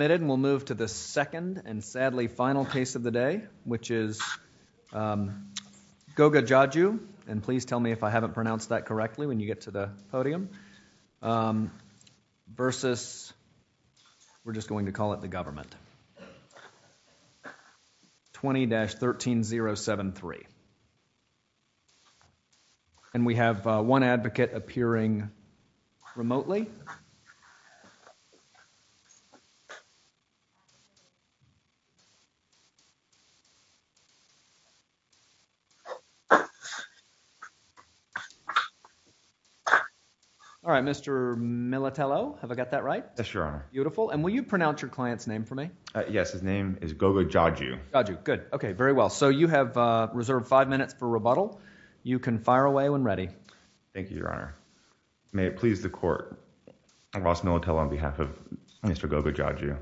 We'll move to the second and sadly final case of the day, which is Goga Djadju, and please tell me if I haven't pronounced that correctly when you get to the podium, versus, we're just going to call it the government, 20-13073. And we have one advocate appearing remotely. All right, Mr. Militello, have I got that right? Yes, Your Honor. Beautiful. And will you pronounce your client's name for me? Yes. His name is Goga Djadju. Djadju, good. Okay, very well. So, you have reserved five minutes for rebuttal. You can fire away when ready. Thank you, Your Honor. May it please the court, Ross Militello on behalf of Mr. Goga Djadju.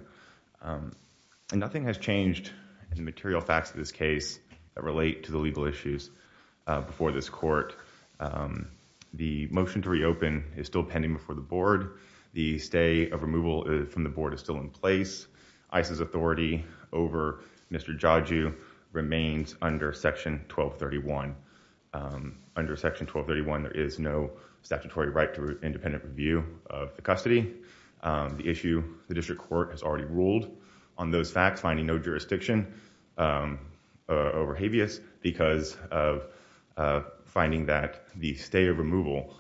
Nothing has changed in the material facts of this case that relate to the legal issues before this court. The motion to reopen is still pending before the board. The stay of removal from the board is still in place. ICE's authority over Mr. Djadju remains under Section 1231. Under Section 1231, there is no statutory right to independent review of the custody. The issue, the district court has already ruled on those facts, finding no jurisdiction over habeas because of finding that the stay of removal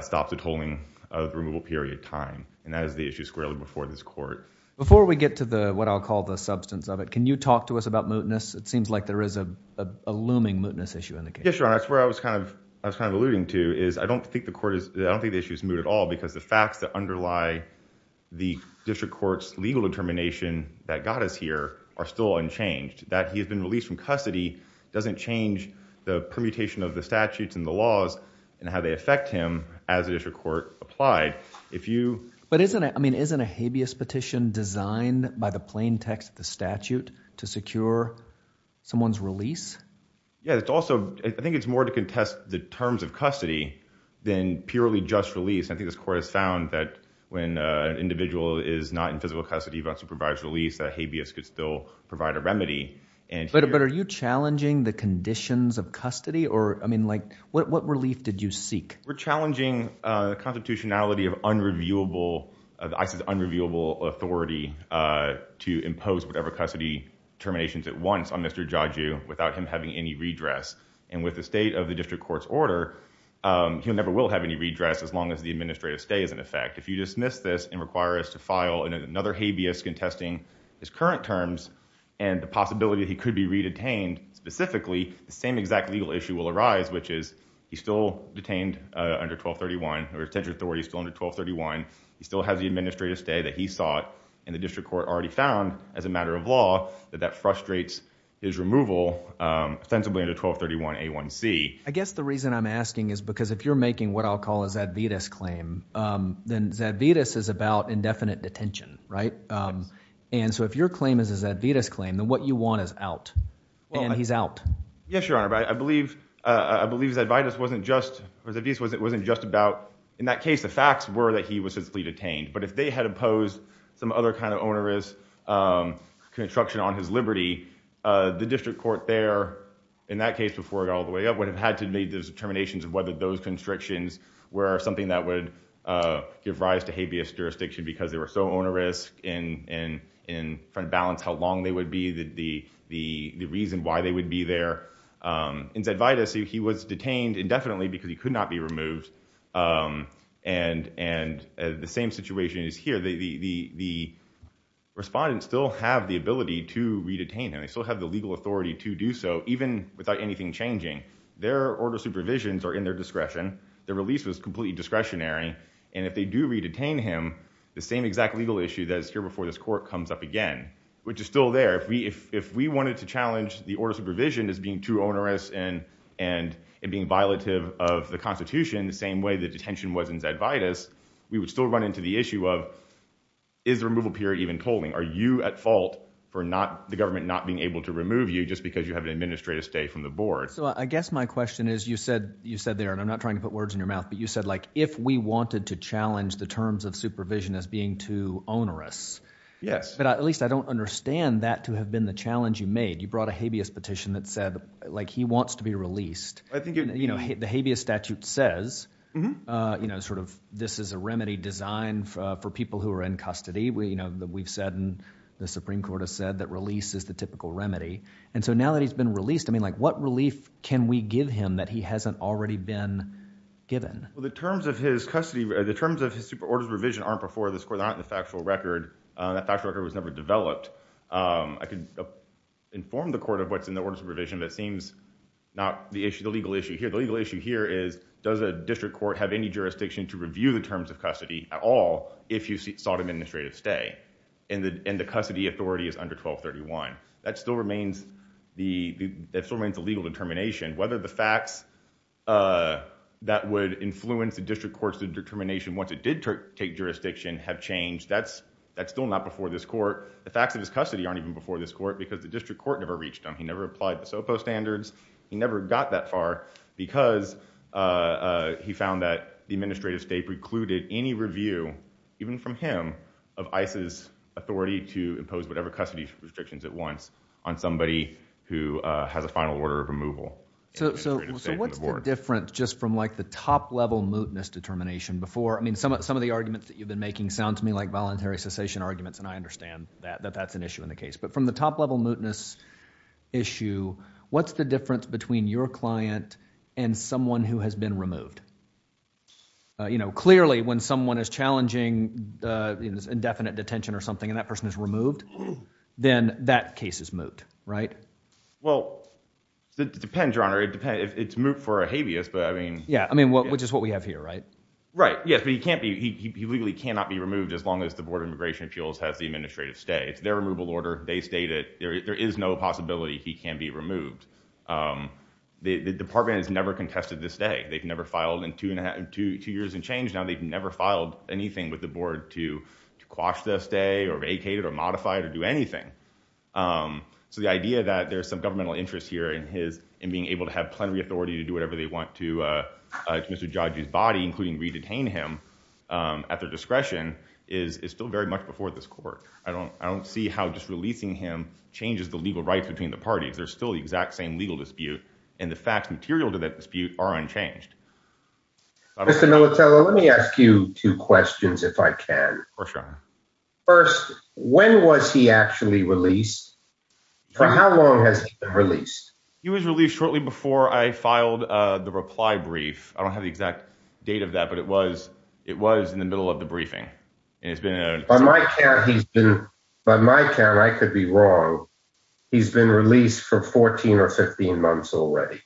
stops the tolling of the removal period time. And that is the issue squarely before this court. Before we get to what I'll call the substance of it, can you talk to us about mootness? It seems like there is a looming mootness issue in the case. Yes, Your Honor. That's where I was kind of alluding to is I don't think the issue is moot at all because the facts that underlie the district court's legal determination that got us here are still unchanged. That he has been released from custody doesn't change the permutation of the statutes and the laws and how they affect him as a district court applied. But isn't a habeas petition designed by the plain text of the statute to secure someone's release? Yes. It's also, I think it's more to contest the terms of custody than purely just release. I think this court has found that when an individual is not in physical custody, even if he provides release, that habeas could still provide a remedy. But are you challenging the conditions of custody? What relief did you seek? We're challenging the constitutionality of unreviewable, of ICE's unreviewable authority to impose whatever custody terminations at once on Mr. Jaju without him having any redress. And with the state of the district court's order, he never will have any redress as long as the administrative stay is in effect. If you dismiss this and require us to file another habeas contesting his current terms and the possibility that he could be re-detained specifically, the same exact legal issue will under 1231, the retention authority is still under 1231. He still has the administrative stay that he sought and the district court already found as a matter of law that that frustrates his removal ostensibly under 1231A1C. I guess the reason I'm asking is because if you're making what I'll call a Zadvitas claim, then Zadvitas is about indefinite detention, right? And so if your claim is a Zadvitas claim, then what you want is out and he's out. Yes, Your Honor, but I believe Zadvitas wasn't just about, in that case, the facts were that he was simply detained. But if they had opposed some other kind of onerous construction on his liberty, the district court there, in that case before it got all the way up, would have had to make those determinations of whether those constrictions were something that would give rise to habeas jurisdiction because they were so onerous in trying to balance how long they would be, the reason why they would be there. In Zadvitas, he was detained indefinitely because he could not be removed. And the same situation is here. The respondents still have the ability to re-detain him. They still have the legal authority to do so, even without anything changing. Their order of supervisions are in their discretion. Their release was completely discretionary. And if they do re-detain him, the same exact legal issue that is here before this court comes up again, which is still there. If we wanted to challenge the order of supervision as being too onerous and being violative of the Constitution, the same way the detention was in Zadvitas, we would still run into the issue of, is the removal period even polling? Are you at fault for the government not being able to remove you just because you have an administrative stay from the board? So I guess my question is, you said there, and I'm not trying to put words in your mouth, but you said, like, if we wanted to challenge the terms of supervision as being too onerous. Yes. But at least I don't understand that to have been the challenge you made. You brought a habeas petition that said, like, he wants to be released. The habeas statute says, you know, sort of, this is a remedy designed for people who are in custody. We, you know, we've said, and the Supreme Court has said, that release is the typical remedy. And so now that he's been released, I mean, like, what relief can we give him that he hasn't already been given? Well, the terms of his custody, the terms of his orders of provision aren't before this court, not in the factual record. That factual record was never developed. I can inform the court of what's in the orders of provision, but it seems not the issue, the legal issue here. The legal issue here is, does a district court have any jurisdiction to review the terms of custody at all if you sought administrative stay? And the custody authority is under 1231. That still remains the legal determination. Whether the facts that would influence the district court's determination once it did take jurisdiction have changed, that's still not before this court. The facts of his custody aren't even before this court because the district court never reached them. He never applied the SOPA standards. He never got that far because he found that the administrative state precluded any review, even from him, of ICE's authority to impose whatever custody restrictions it wants on somebody who has a final order of removal. So what's the difference, just from like the top level mootness determination before? I mean, some of the arguments that you've been making sound to me like voluntary cessation arguments, and I understand that that's an issue in the case. But from the top level mootness issue, what's the difference between your client and someone who has been removed? Clearly, when someone is challenging indefinite detention or something and that person is removed, then that case is moot, right? Well, it depends, Your Honor. It's moot for a habeas, but I mean... Yeah, I mean, which is what we have here, right? Right, yes, but he legally cannot be removed as long as the Board of Immigration Appeals has the administrative stay. It's their removal order. They stated there is no possibility he can be removed. The department has never contested this day. They've never filed in two years and change. Now, they've never filed anything with the board to quash the stay or vacate it or modify it or do anything. So the idea that there's some governmental interest here in his... in being able to have plenary authority to do whatever they want to Mr. Jaji's body, including re-detain him at their discretion, is still very much before this court. I don't see how just releasing him changes the legal rights between the parties. There's still the exact same legal dispute, and the facts material to that dispute are unchanged. Mr. Militello, let me ask you two questions, if I can. Of course, Your Honor. First, when was he actually released? For how long has he been released? He was released shortly before I filed the reply brief. I don't have the exact date of that, but it was in the middle of the briefing. By my count, I could be wrong. He's been released for 14 or 15 months already.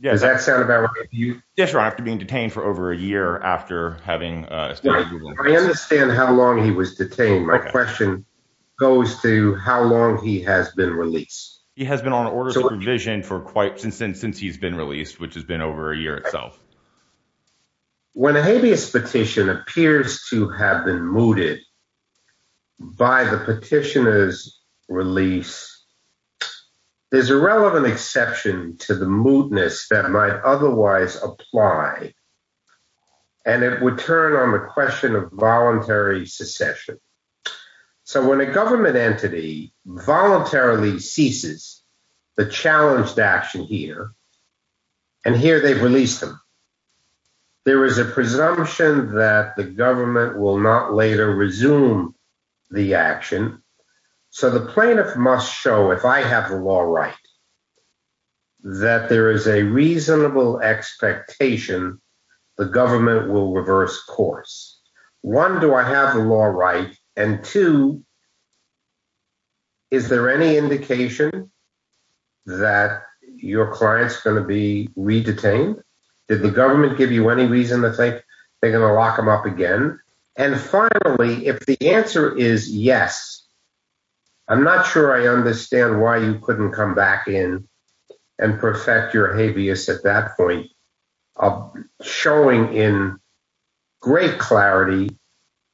Does that sound about right to you? Yes, Your Honor. After being detained for over a year after having... I understand how long he was detained. My question goes to how long he has been released. He has been on orders of revision since he's been released, which has been over a year itself. When a habeas petition appears to have been mooted by the petitioner's release, there's a relevant exception to the moodness that might otherwise apply, and it would turn on the question of voluntary secession. So when a government entity voluntarily ceases the challenged action here, and here they've released him, there is a presumption that the government will not later resume the action. So the plaintiff must show, if I have the law right, that there is a reasonable expectation the government will reverse course. One, do I have the law right? And two, is there any indication that your client's going to be re-detained? Did the government give you any reason to think they're going to lock him up again? And finally, if the answer is yes, I'm not sure I understand why you couldn't come back in and perfect your habeas at that point of showing in great clarity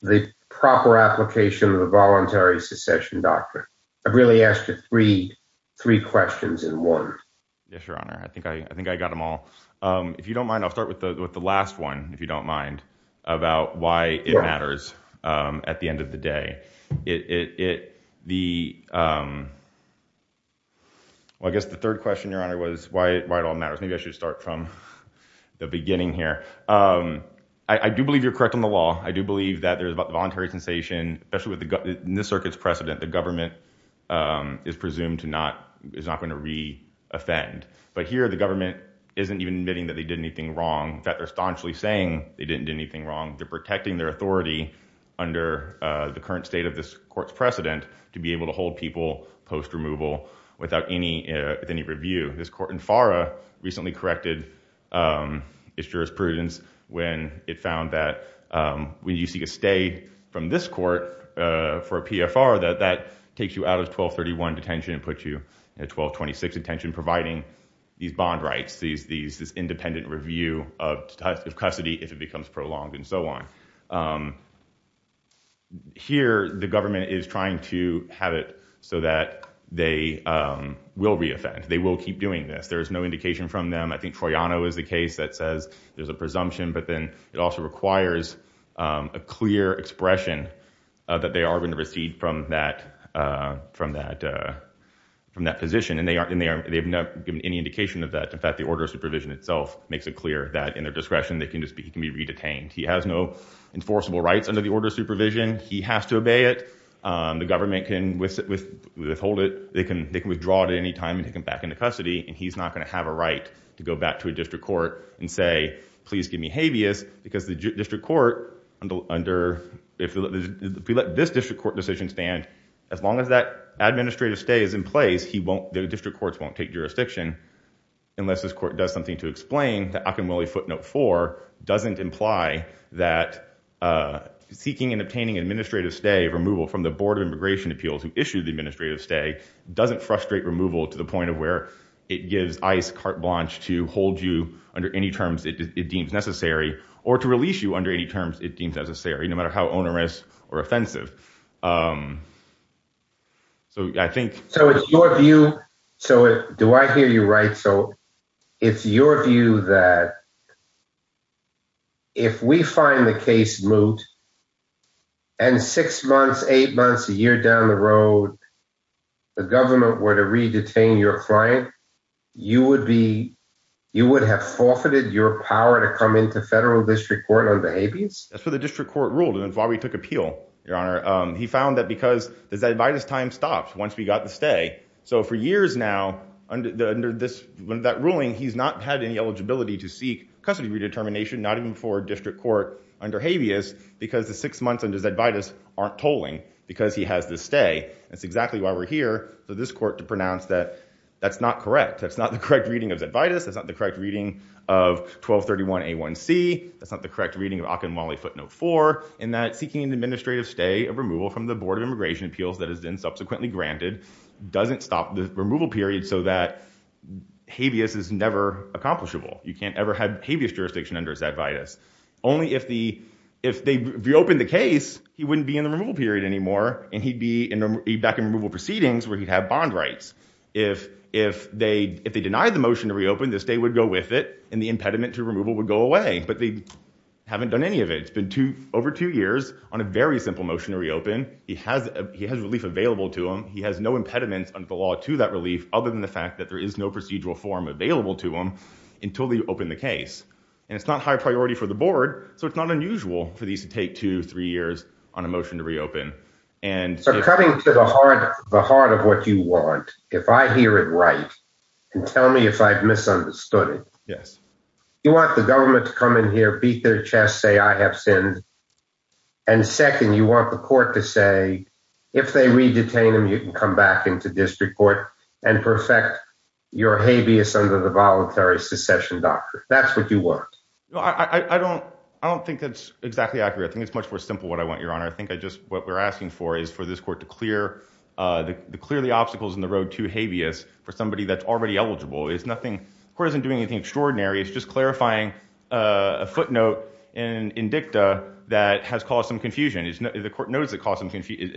the proper application of the voluntary secession doctrine. I've really asked you three questions in one. Yes, your honor. I think I got them all. If you don't mind, I'll start with the last one, if you don't mind, about why it matters at the end of the day. The third question, your honor, was why it all matters. Maybe I should start from the beginning here. I do believe you're correct on the law. I do believe that there's about the voluntary cessation, especially in this circuit's precedent, the government is presumed to not, is not going to re-offend. But here the government isn't even admitting that they did anything wrong. In fact, they're staunchly saying they didn't do anything wrong. They're protecting their authority under the current state of this court's precedent to be able to hold people post-removal without any review. This court in FARA recently corrected its jurisprudence when it found that when you seek a stay from this court for a PFR, that takes you out of 1231 detention and puts you in a 1226 detention, providing these bond rights, this independent review of custody if it becomes prolonged and so on. Here the government is trying to have it so that they will re-offend. They will keep doing this. There is no indication from them. I think Troiano is the case that says there's a presumption, but then it also requires a clear expression that they are going to recede from that position. And they've not given any indication of that. In fact, the order of supervision itself makes it clear that in their discretion, he can be re-detained. He has no enforceable rights under the order of supervision. He has to obey it. The government can withhold it. They can withdraw it at any time and take him back into custody. And he's not going to have a right to go back to a district court and say, please give me habeas because the district court under, if we let this district court decision stand, as long as that administrative stay is in place, the district courts won't take jurisdiction unless this court does something to explain that Akinwole Footnote 4 doesn't imply that seeking and obtaining administrative stay removal from the Board of Immigration Appeals who issued the administrative stay doesn't frustrate removal to the point of where it gives ICE carte blanche to hold you under any terms it deems necessary or to release you under any terms it deems necessary, no matter how onerous or offensive. So I think- So it's your view that if we find the case moot and six months, eight months, a year down the road, the government were to re-detain your client, you would have forfeited your power to come into federal district court under habeas? That's what the district court ruled and that's why we took appeal, Your Honor. He found that because- that by this time stopped once we got the stay. So for years now, under that ruling, he's not had any eligibility to seek custody redetermination, not even for district court under habeas because the six months under Zedvitas aren't tolling because he has this stay. That's exactly why we're here for this court to pronounce that that's not correct. That's not the correct reading of Zedvitas. That's not the correct reading of 1231A1C. That's not the correct reading of Akinwole Footnote 4 in that seeking an administrative stay of removal from the Board of Immigration Appeals that has been subsequently granted doesn't stop the removal period so that habeas is never accomplishable. You can't ever have habeas jurisdiction under Zedvitas. Only if they reopened the case, he wouldn't be in the removal period anymore and he'd be back in removal proceedings where he'd have bond rights. If they denied the motion to reopen, the stay would go with it and the impediment to removal would go away, but they haven't done any of it. It's been over two years on a very simple motion to reopen. He has relief available to him. He has no impediments under the law to that relief other than the fact that there is no procedural form available to him until they open the case. And it's not high priority for the board, so it's not unusual for these to take two, three years on a motion to reopen. So coming to the heart of what you want, if I hear it right and tell me if I've misunderstood it, you want the government to come in here, beat their chest, say I have sinned and second, you want the court to say, if they re-detain him, you can come back into district court and perfect your habeas under the voluntary secession doctrine. That's what you want. I don't think that's exactly accurate. I think it's much more simple what I want, Your Honor. I think what we're asking for is for this court to clear the obstacles in the road to habeas for somebody that's already eligible. The court isn't doing anything extraordinary. It's just clarifying a footnote in dicta that has caused some confusion. The court knows it's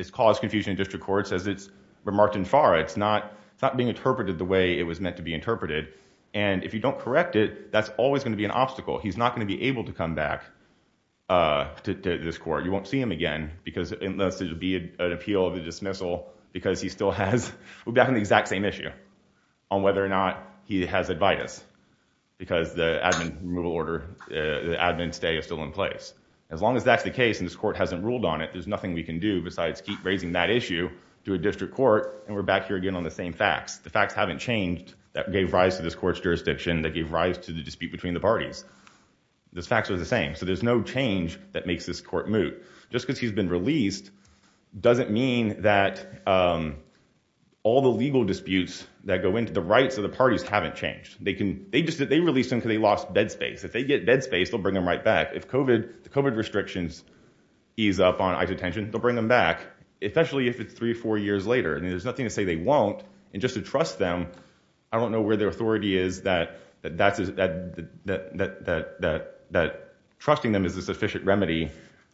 caused confusion in district court, says it's remarked in fara. It's not being interpreted the way it was meant to be interpreted. And if you don't correct it, that's always going to be an obstacle. He's not going to be able to come back to this court. You won't see him again unless it would be an appeal of the dismissal because he still has the exact same issue on whether or not he has habeas because the admin removal order, the admin stay is still in place. As long as that's the case and this court hasn't ruled on it, there's nothing we can do besides keep raising that issue to a district court. And we're back here again on the same facts. The facts haven't changed that gave rise to this court's jurisdiction, that gave rise to the dispute between the parties. Those facts are the same. So there's no change that makes this court moot. Just because he's been released doesn't mean that all the legal disputes that go into the rights of the parties haven't changed. They released him because they lost bed space. If they get bed space, they'll bring him right back. The COVID restrictions ease up on ICE detention, they'll bring them back, especially if it's three or four years later. There's nothing to say they won't. And just to trust them, I don't know where their authority is that trusting them is a sufficient remedy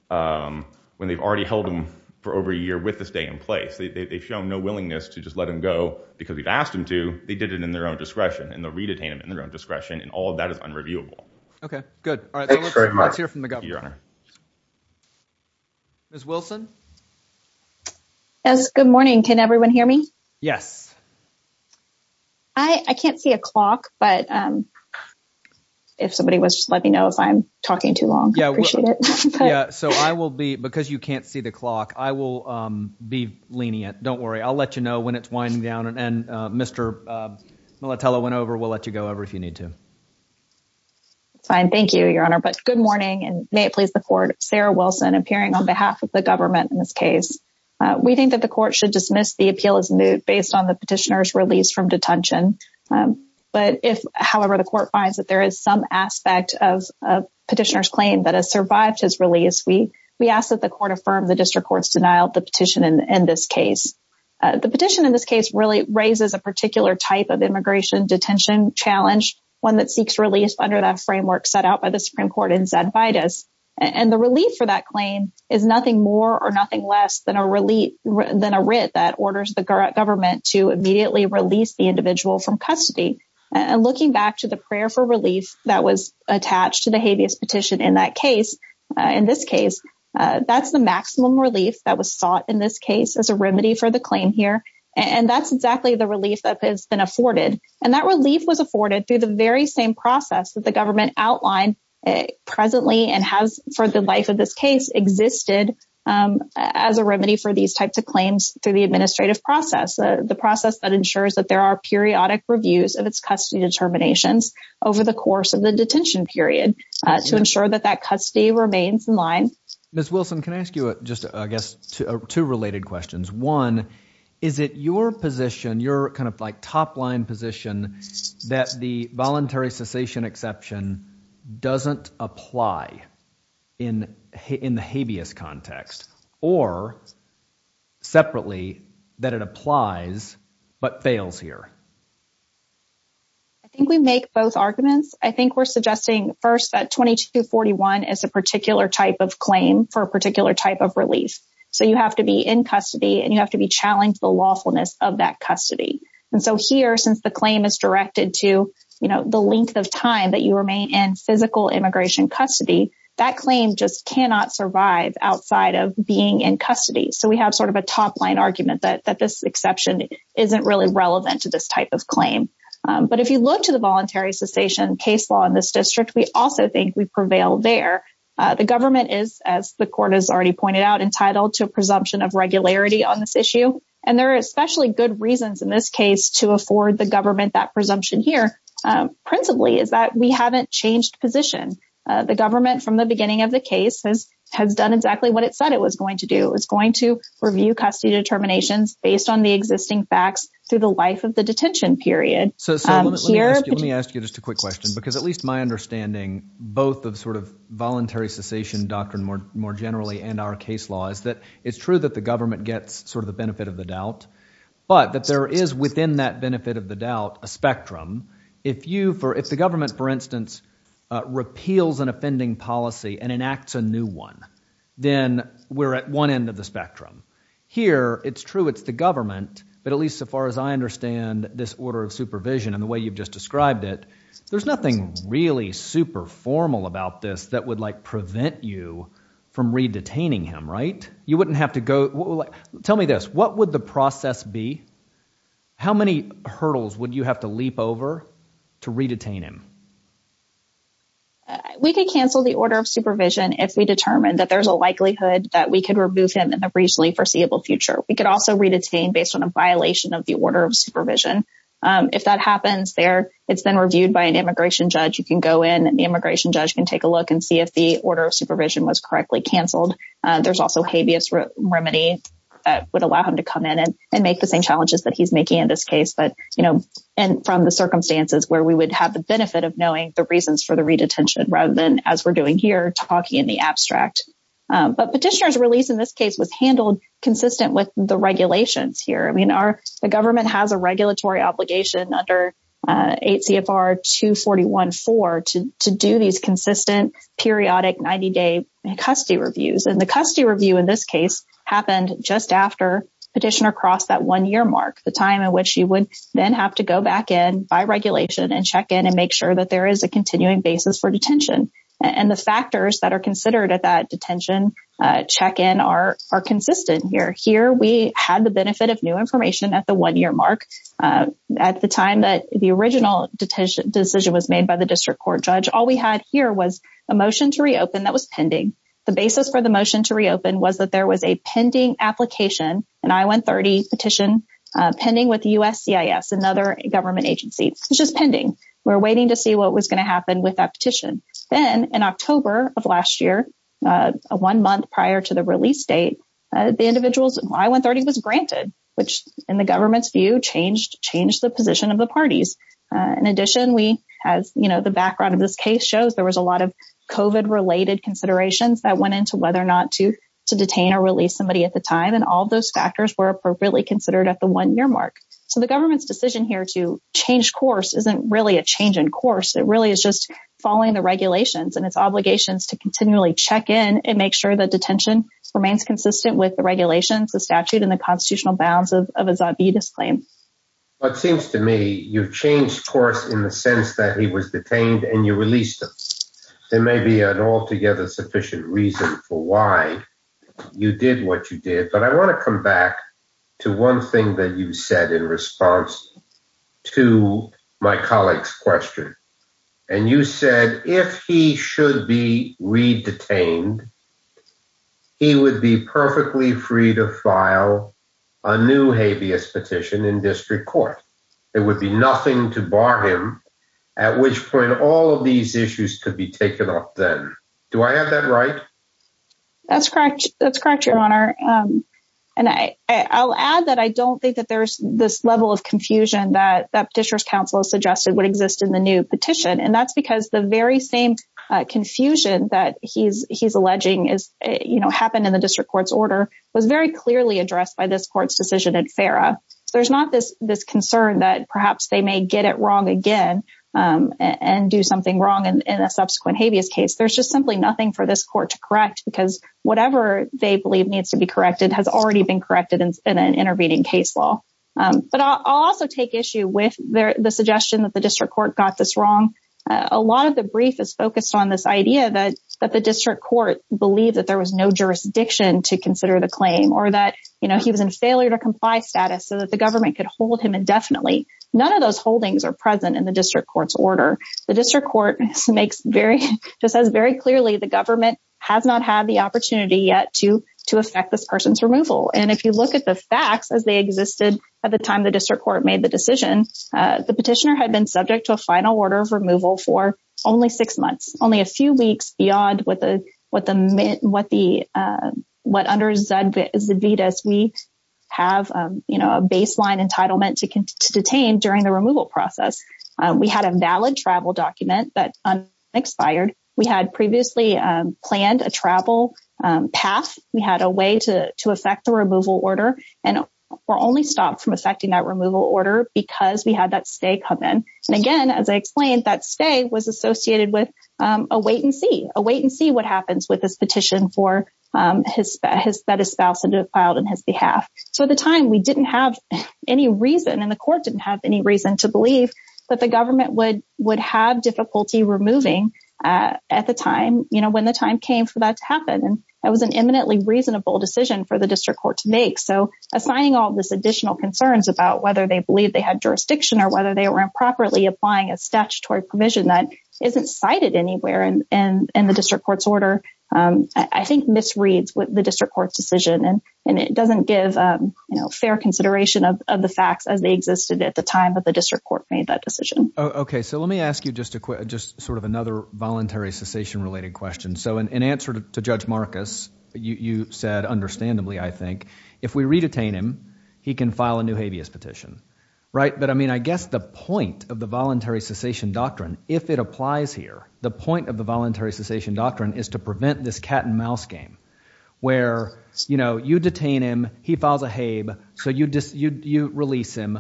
when they've already held him for over a year with the stay in place. They've shown no willingness to just let him go because we've asked him to. They did it in their own discretion. And they'll re-detain him in their own discretion. And all of that is unreviewable. Okay, good. All right, let's hear from the governor. Ms. Wilson? Yes, good morning. Can everyone hear me? Yes. I can't see a clock, but if somebody was just let me know if I'm talking too long. I appreciate it. Yeah, so I will be because you can't see the clock. I will be lenient. Don't worry. I'll let you know when it's winding down. And Mr. Militello went over. We'll let you go over if you need to. It's fine. Thank you, Your Honor. But good morning. And may it please the court. Sarah Wilson appearing on behalf of the government in this case. We think that the court should dismiss the appeal as moot based on the petitioner's release from detention. But if, however, the court finds that there is some aspect of a petitioner's claim that has survived his release, we ask that the court affirm the district court's denial of the petition in this case. The petition in this case really raises a particular type of immigration detention challenge, one that seeks release under that framework set out by the Supreme Court in Zed Vidas. And the relief for that claim is nothing more or nothing less than a writ that orders the government to immediately release the individual from custody. And looking back to the prayer for relief that was attached to the habeas petition in that case, in this case, that's the maximum relief that was sought in this case as a remedy for the claim here. And that's exactly the relief that has been afforded. And that relief was afforded through the very same process that the government outlined presently and has for the life of this case existed as a remedy for these types of claims through the administrative process, the process that ensures that there are periodic reviews of its custody determinations over the course of the detention period to ensure that that custody remains in line. Ms. Wilson, can I ask you just, I guess, two related questions? One, is it your position, your kind of like top line position that the voluntary cessation exception doesn't apply in the habeas context or separately that it applies but fails here? I think we make both arguments. I think we're suggesting first that 2241 is a particular type of claim for a particular type of release. So you have to be in custody and you have to be challenged the lawfulness of that custody. And so here, since the claim is directed to the length of time that you remain in physical immigration custody, that claim just cannot survive outside of being in custody. So we have sort of a top line argument that this exception isn't really relevant to this type of claim. But if you look to the voluntary cessation case law in this district, we also think we prevail there. The government is, as the court has already pointed out, entitled to a presumption of regularity on this issue. And there are especially good reasons in this case to afford the government that presumption here, principally, is that we haven't changed position. The government, from the beginning of the case, has done exactly what it said it was going to do. It was going to review custody determinations based on the existing facts through the life of the detention period. So let me ask you just a quick question, because at least my understanding, both the sort of voluntary cessation doctrine more generally and our case law, is that it's true that the government gets sort of the benefit of the doubt, but that there is within that benefit of the doubt a spectrum. If the government, for instance, repeals an offending policy and enacts a new one, then we're at one end of the spectrum. Here, it's true it's the government, but at least so far as I understand this order of supervision and the way you've just described it, there's nothing really super formal about this that would prevent you from re-detaining him, right? You wouldn't have to go—tell me this. What would the process be? How many hurdles would you have to leap over to re-detain him? We could cancel the order of supervision if we determine that there's a likelihood that we could remove him in the reasonably foreseeable future. We could also re-detain based on a violation of the order of supervision. If that happens there, it's then reviewed by an immigration judge. The immigration judge can take a look and see if the order of supervision was correctly canceled. There's also habeas remedy that would allow him to come in and make the same challenges that he's making in this case, but from the circumstances where we would have the benefit of knowing the reasons for the re-detention rather than, as we're doing here, talking in the abstract. Petitioner's release in this case was handled consistent with the regulations here. The government has a regulatory obligation under 8 CFR 241-4 to do these consistent, periodic 90-day custody reviews. The custody review in this case happened just after Petitioner crossed that one-year mark, the time in which you would then have to go back in by regulation and check in and make sure that there is a continuing basis for detention. The factors that are considered at that detention check-in are consistent here. We had the benefit of new information at the one-year mark at the time that the original decision was made by the district court judge. All we had here was a motion to reopen that was pending. The basis for the motion to reopen was that there was a pending application, an I-130 petition, pending with USCIS, another government agency. It's just pending. Then, in October of last year, one month prior to the release date, the individual's I-130 was granted, which, in the government's view, changed the position of the parties. In addition, as the background of this case shows, there was a lot of COVID-related considerations that went into whether or not to detain or release somebody at the time. All those factors were appropriately considered at the one-year mark. The government's decision here to change course isn't really a change in course. It really is just following the regulations and its obligations to continually check-in and make sure that detention remains consistent with the regulations, the statute, and the constitutional bounds of a Zot B disclaim. Well, it seems to me you've changed course in the sense that he was detained and you released him. There may be an altogether sufficient reason for why you did what you did, but I want to come back to one thing that you said in response to my colleague's question. And you said if he should be re-detained, he would be perfectly free to file a new habeas petition in district court. There would be nothing to bar him, at which point all of these issues could be taken up then. Do I have that right? That's correct. That's correct, Your Honor. And I'll add that I don't think that there's this level of confusion that Petitioner's would exist in the new petition. And that's because the very same confusion that he's alleging happened in the district court's order was very clearly addressed by this court's decision in FARA. There's not this concern that perhaps they may get it wrong again and do something wrong in a subsequent habeas case. There's just simply nothing for this court to correct because whatever they believe needs to be corrected has already been corrected in an intervening case law. But I'll also take issue with the suggestion that the district court got this wrong. A lot of the brief is focused on this idea that the district court believed that there was no jurisdiction to consider the claim or that he was in failure to comply status so that the government could hold him indefinitely. None of those holdings are present in the district court's order. The district court makes very, just says very clearly the government has not had the opportunity yet to affect this person's removal. And if you look at the facts as they existed at the time the district court made the decision, the petitioner had been subject to a final order of removal for only six months, only a few weeks beyond what the, what the, what the, what under ZVDAS we have, you know, a baseline entitlement to detain during the removal process. We had a valid travel document that expired. We had previously planned a travel path. We had a way to, to affect the removal order and we're only stopped from affecting that removal order because we had that stay come in. And again, as I explained, that stay was associated with a wait and see, a wait and see what happens with this petition for his, that his spouse filed on his behalf. So at the time we didn't have any reason and the court didn't have any reason to believe that the government would, would have difficulty removing at the time, you know, when the time came for that to happen. That was an eminently reasonable decision for the district court to make. So assigning all this additional concerns about whether they believe they had jurisdiction or whether they were improperly applying a statutory provision that isn't cited anywhere in, in the district court's order, I think misreads what the district court's decision and, and it doesn't give, you know, fair consideration of the facts as they existed at the time that the district court made that decision. Okay. So let me ask you just a quick, just sort of another voluntary cessation related question. So in answer to Judge Marcus, you said, understandably, I think if we re-detain him, he can file a new habeas petition, right? But I mean, I guess the point of the voluntary cessation doctrine, if it applies here, the point of the voluntary cessation doctrine is to prevent this cat and mouse game where, you know, you detain him, he files a habe, so you release him,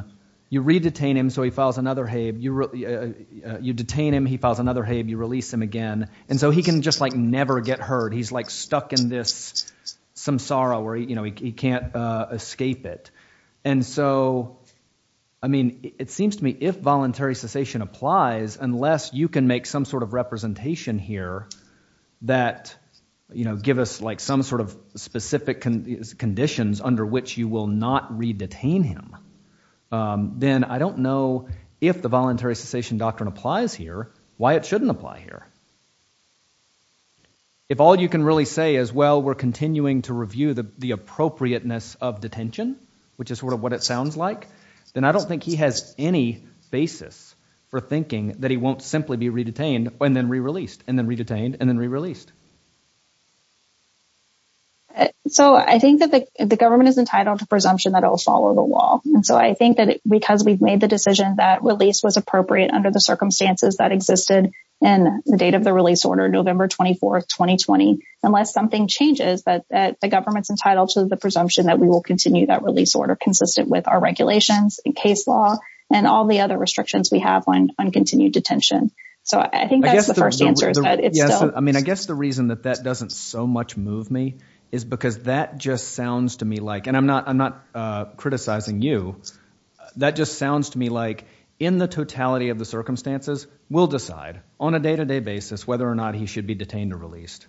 you re-detain him, so he files another habe, you detain him, he files another habe, you release him again. And so he can just like never get heard. He's like stuck in this samsara where, you know, he can't escape it. And so, I mean, it seems to me if voluntary cessation applies, unless you can make some sort of representation here that, you know, give us like some sort of specific conditions under which you will not re-detain him, then I don't know if the voluntary cessation doctrine applies here, why it shouldn't apply here. If all you can really say is, well, we're continuing to review the appropriateness of detention, which is sort of what it sounds like, then I don't think he has any basis for thinking that he won't simply be re-detained and then re-released and then re-detained and then re-released. So I think that the government is entitled to presumption that it will follow the law. And so I think that because we've made the decision that release was appropriate under the circumstances that existed in the date of the release order, November 24, 2020, unless something changes, that the government's entitled to the presumption that we will continue that release order consistent with our regulations and case law and all the other restrictions we have on continued detention. So I think that's the first answer. I mean, I guess the reason that that doesn't so much move me is because that just sounds to me like, and I'm not criticizing you, that just sounds to me like in the totality of the circumstances, we'll decide on a day-to-day basis whether or not he should be detained or released.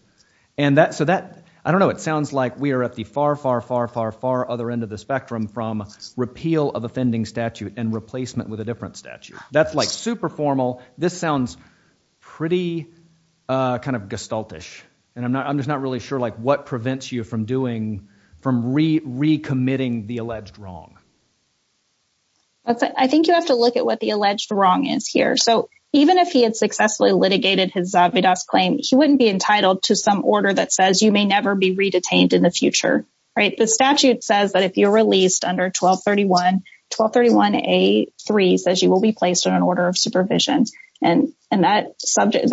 And so that, I don't know, it sounds like we are at the far, far, far, far, far other end of the spectrum from repeal of offending statute and replacement with a different statute. That's like super formal. This sounds pretty kind of gestalt-ish. And I'm just not really sure what prevents you from doing, from re-committing the alleged wrong. I think you have to look at what the alleged wrong is here. So even if he had successfully litigated his Zavidas claim, he wouldn't be entitled to some order that says you may never be re-detained in the future, right? The statute says that if you're released under 1231, 1231A3 says you will be placed on an order of supervision. And those terms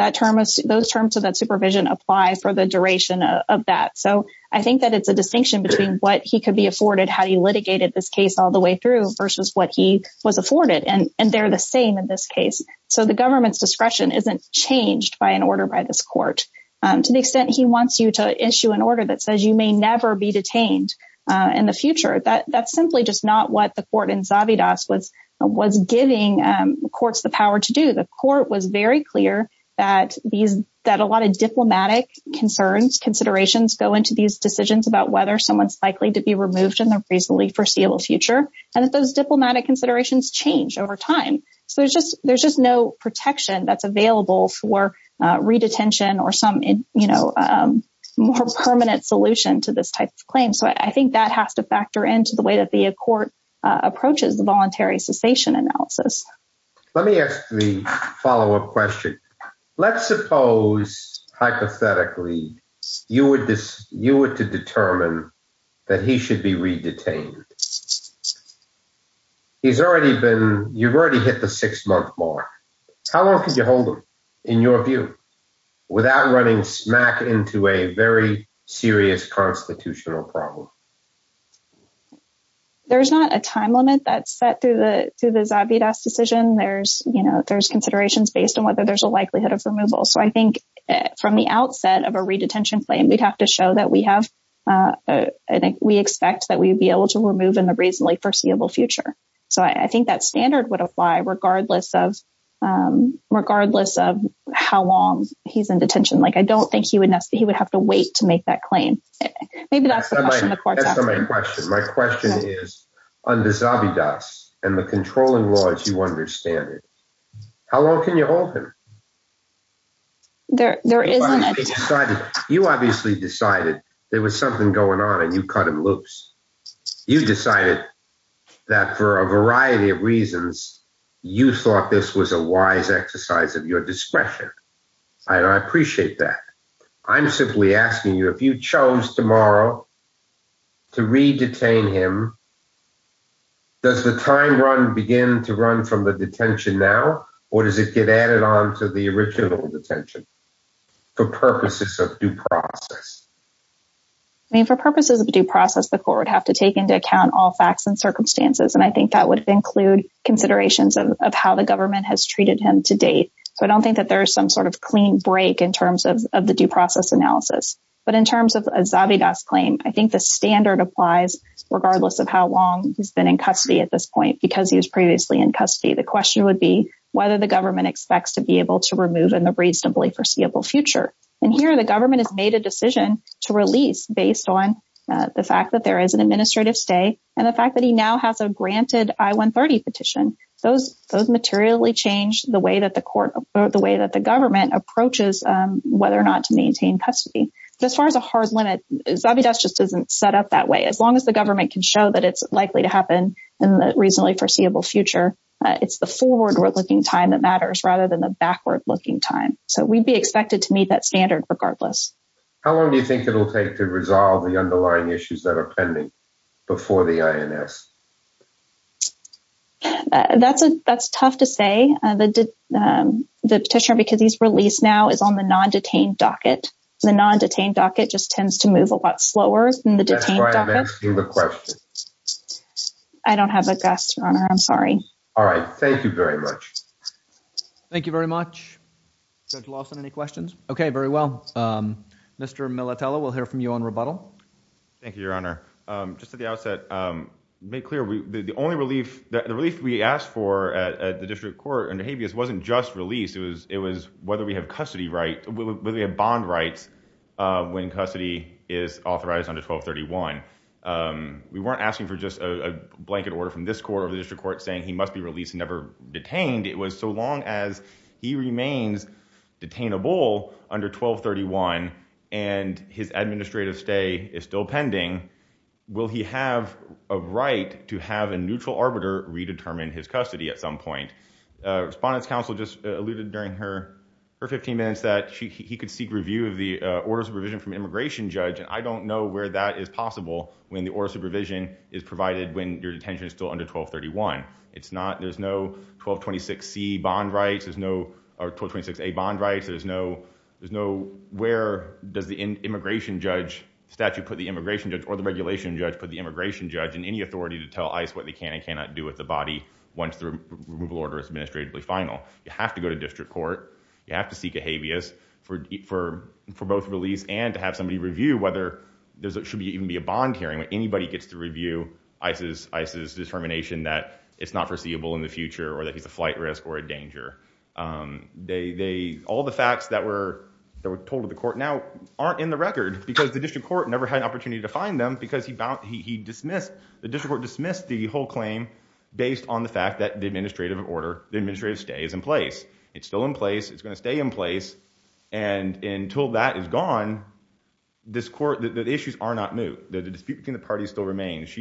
of that supervision apply for the duration of that. So I think that it's a distinction between what he could be afforded had he litigated this case all the way through versus what he was afforded. And they're the same in this case. So the government's discretion isn't changed by an order by this court. To the extent he wants you to issue an order that says you may never be detained in the future, that's simply just not what the court in Zavidas was giving courts the power to do. The court was very clear that a lot of diplomatic concerns, considerations go into these decisions about whether someone's likely to be removed in the reasonably foreseeable future and that those diplomatic considerations change over time. So there's just no protection that's available for re-detention or some more permanent solution to this type of claim. So I think that has to factor into the way that the court approaches the voluntary cessation analysis. Let me ask the follow-up question. Let's suppose, hypothetically, you were to determine that he should be re-detained. You've already hit the six-month mark. How long could you hold him, in your view, without running smack into a very serious constitutional problem? There's not a time limit that's set through the Zavidas decision. There's considerations based on whether there's a likelihood of removal. So I think from the outset of a re-detention claim, we'd have to show that we expect that we would be able to remove in the reasonably foreseeable future. So I think that standard would apply regardless of how long he's in detention. Like, I don't think he would have to wait to make that claim. Maybe that's the question the court is asking. My question is, under Zavidas and the controlling laws, you understand it. How long can you hold him? You obviously decided there was something going on and you cut him loose. You decided that for a variety of reasons, you thought this was a wise exercise of your discretion. I appreciate that. I'm simply asking you, if you chose tomorrow to re-detain him, does the time run begin to run from the detention now? Or does it get added on to the original detention for purposes of due process? I mean, for purposes of due process, the court would have to take into account all facts and circumstances. And I think that would include considerations of how the government has treated him to date. So I don't think that there's some sort of clean break in terms of the due process analysis. But in terms of Zavidas' claim, I think the standard applies regardless of how long he's been in custody at this point. Because he was previously in custody, the question would be whether the government expects to be able to remove him in the reasonably foreseeable future. And here, the government has made a decision to release based on the fact that there is an administrative stay and the fact that he now has a granted I-130 petition. Those materially change the way that the government approaches whether or not to maintain custody. As far as a hard limit, Zavidas just isn't set up that way. As long as the government can show that it's likely to happen in the reasonably foreseeable future, it's the forward-looking time that matters rather than the backward-looking time. So we'd be expected to meet that standard regardless. How long do you think it'll take to resolve the underlying issues that are pending before the INS? That's tough to say. The petitioner, because he's released now, is on the non-detained docket. The non-detained docket just tends to move a lot slower than the detained docket. That's why I'm asking the question. I don't have a guess, Your Honor. I'm sorry. All right. Thank you very much. Thank you very much. Judge Lawson, any questions? Okay, very well. Mr. Militella, we'll hear from you on rebuttal. Thank you, Your Honor. Just at the outset, to be clear, the only relief we asked for at the District Court under habeas wasn't just release. It was whether we have bond rights when custody is authorized under 1231. We weren't asking for just a blanket order from this court or the District Court saying he must be released and never detained. It was so long as he remains detainable under 1231 and his administrative stay is still pending, will he have a right to have a neutral arbiter redetermine his custody at some point? Respondent's counsel just alluded during her 15 minutes that he could seek review of the order of supervision from immigration judge, and I don't know where that is possible when the order of supervision is provided when your detention is still under 1231. It's not. There's no 1226C bond rights. There's no 1226A bond rights. There's no where does the immigration judge statute put the immigration judge or the regulation judge put the immigration judge and any authority to tell ICE what they can and cannot do with the body once the removal order is administratively final. You have to go to District Court. You have to seek a habeas for both release and to have somebody review whether there should even be a bond hearing when anybody gets to review ICE's determination that it's not foreseeable in the future or that he's a flight risk or a danger. They, all the facts that were told to the court now aren't in the record because the District Court never had an opportunity to find them because he dismissed, the District Court dismissed the whole claim based on the fact that the administrative order, the administrative stay is in place. It's still in place. It's going to stay in place. And until that is gone, this court, the issues are not new. The dispute between the parties still remains.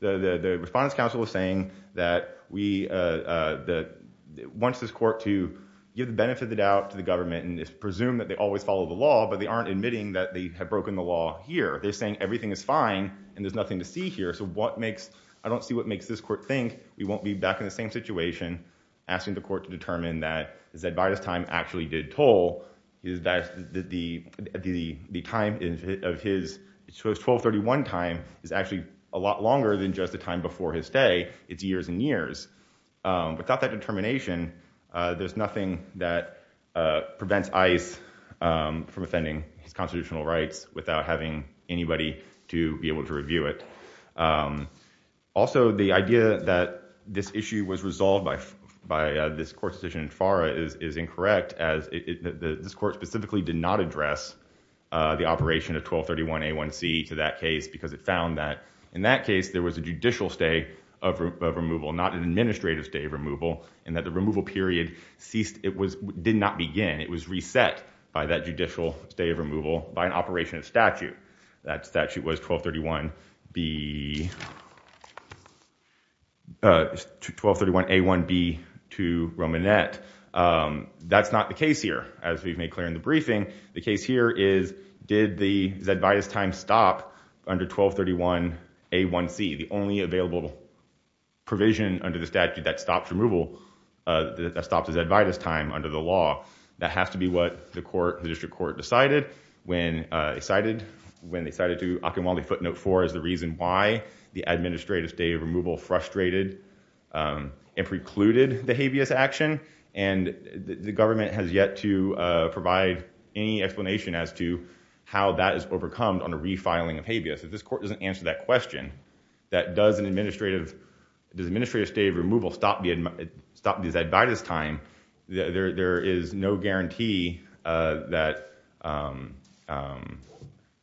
The Respondents' Council is saying that we, that it wants this court to give the benefit of the doubt to the government and just presume that they always follow the law, but they aren't admitting that they have broken the law here. They're saying everything is fine and there's nothing to see here. So what makes, I don't see what makes this court think we won't be back in the same situation asking the court to determine that Zadvydas' time actually did toll is that the time of his 1231 time is actually a lot longer than just the time before his stay. It's years and years. Without that determination, there's nothing that prevents ICE from offending his constitutional rights without having anybody to be able to review it. Also, the idea that this issue was resolved by this court's decision in FARA is incorrect as this court specifically did not address the operation of 1231A1C to that case because it found that in that case there was a judicial stay of removal, not an administrative stay of removal, and that the removal period ceased, it was, did not begin. It was reset by that judicial stay of removal by an operation of statute. That statute was 1231B, 1231A1B to Romanet. That's not the case here. As we've made clear in the briefing, the case here is did the Zadvydas' time stop under 1231A1C, the only available provision under the statute that stops removal, that stops Zadvydas' time under the law. That has to be what the court, the district court, decided when they cited to Occomelney footnote 4 as the reason why the administrative stay of removal frustrated and precluded the and the government has yet to provide any explanation as to how that is overcome on a refiling of habeas. If this court doesn't answer that question, that does an administrative, does administrative stay of removal stop Zadvydas' time, there is no guarantee that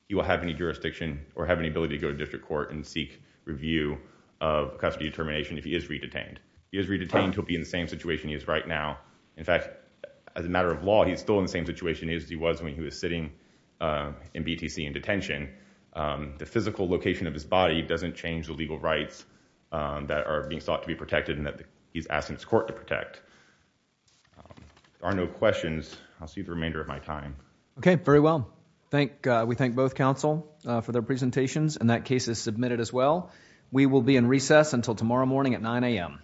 he will have any jurisdiction or have any ability to go to district court and seek review of custody determination if he is re-detained. He is re-detained, he'll be in the same situation he is right now. In fact, as a matter of law, he's still in the same situation as he was when he was sitting in BTC in detention. The physical location of his body doesn't change the legal rights that are being sought to be protected and that he's asking his court to protect. There are no questions. I'll see the remainder of my time. Okay, very well. We thank both counsel for their presentations and that case is submitted as well. We will be in recess until tomorrow morning at 9 a.m. Thank you.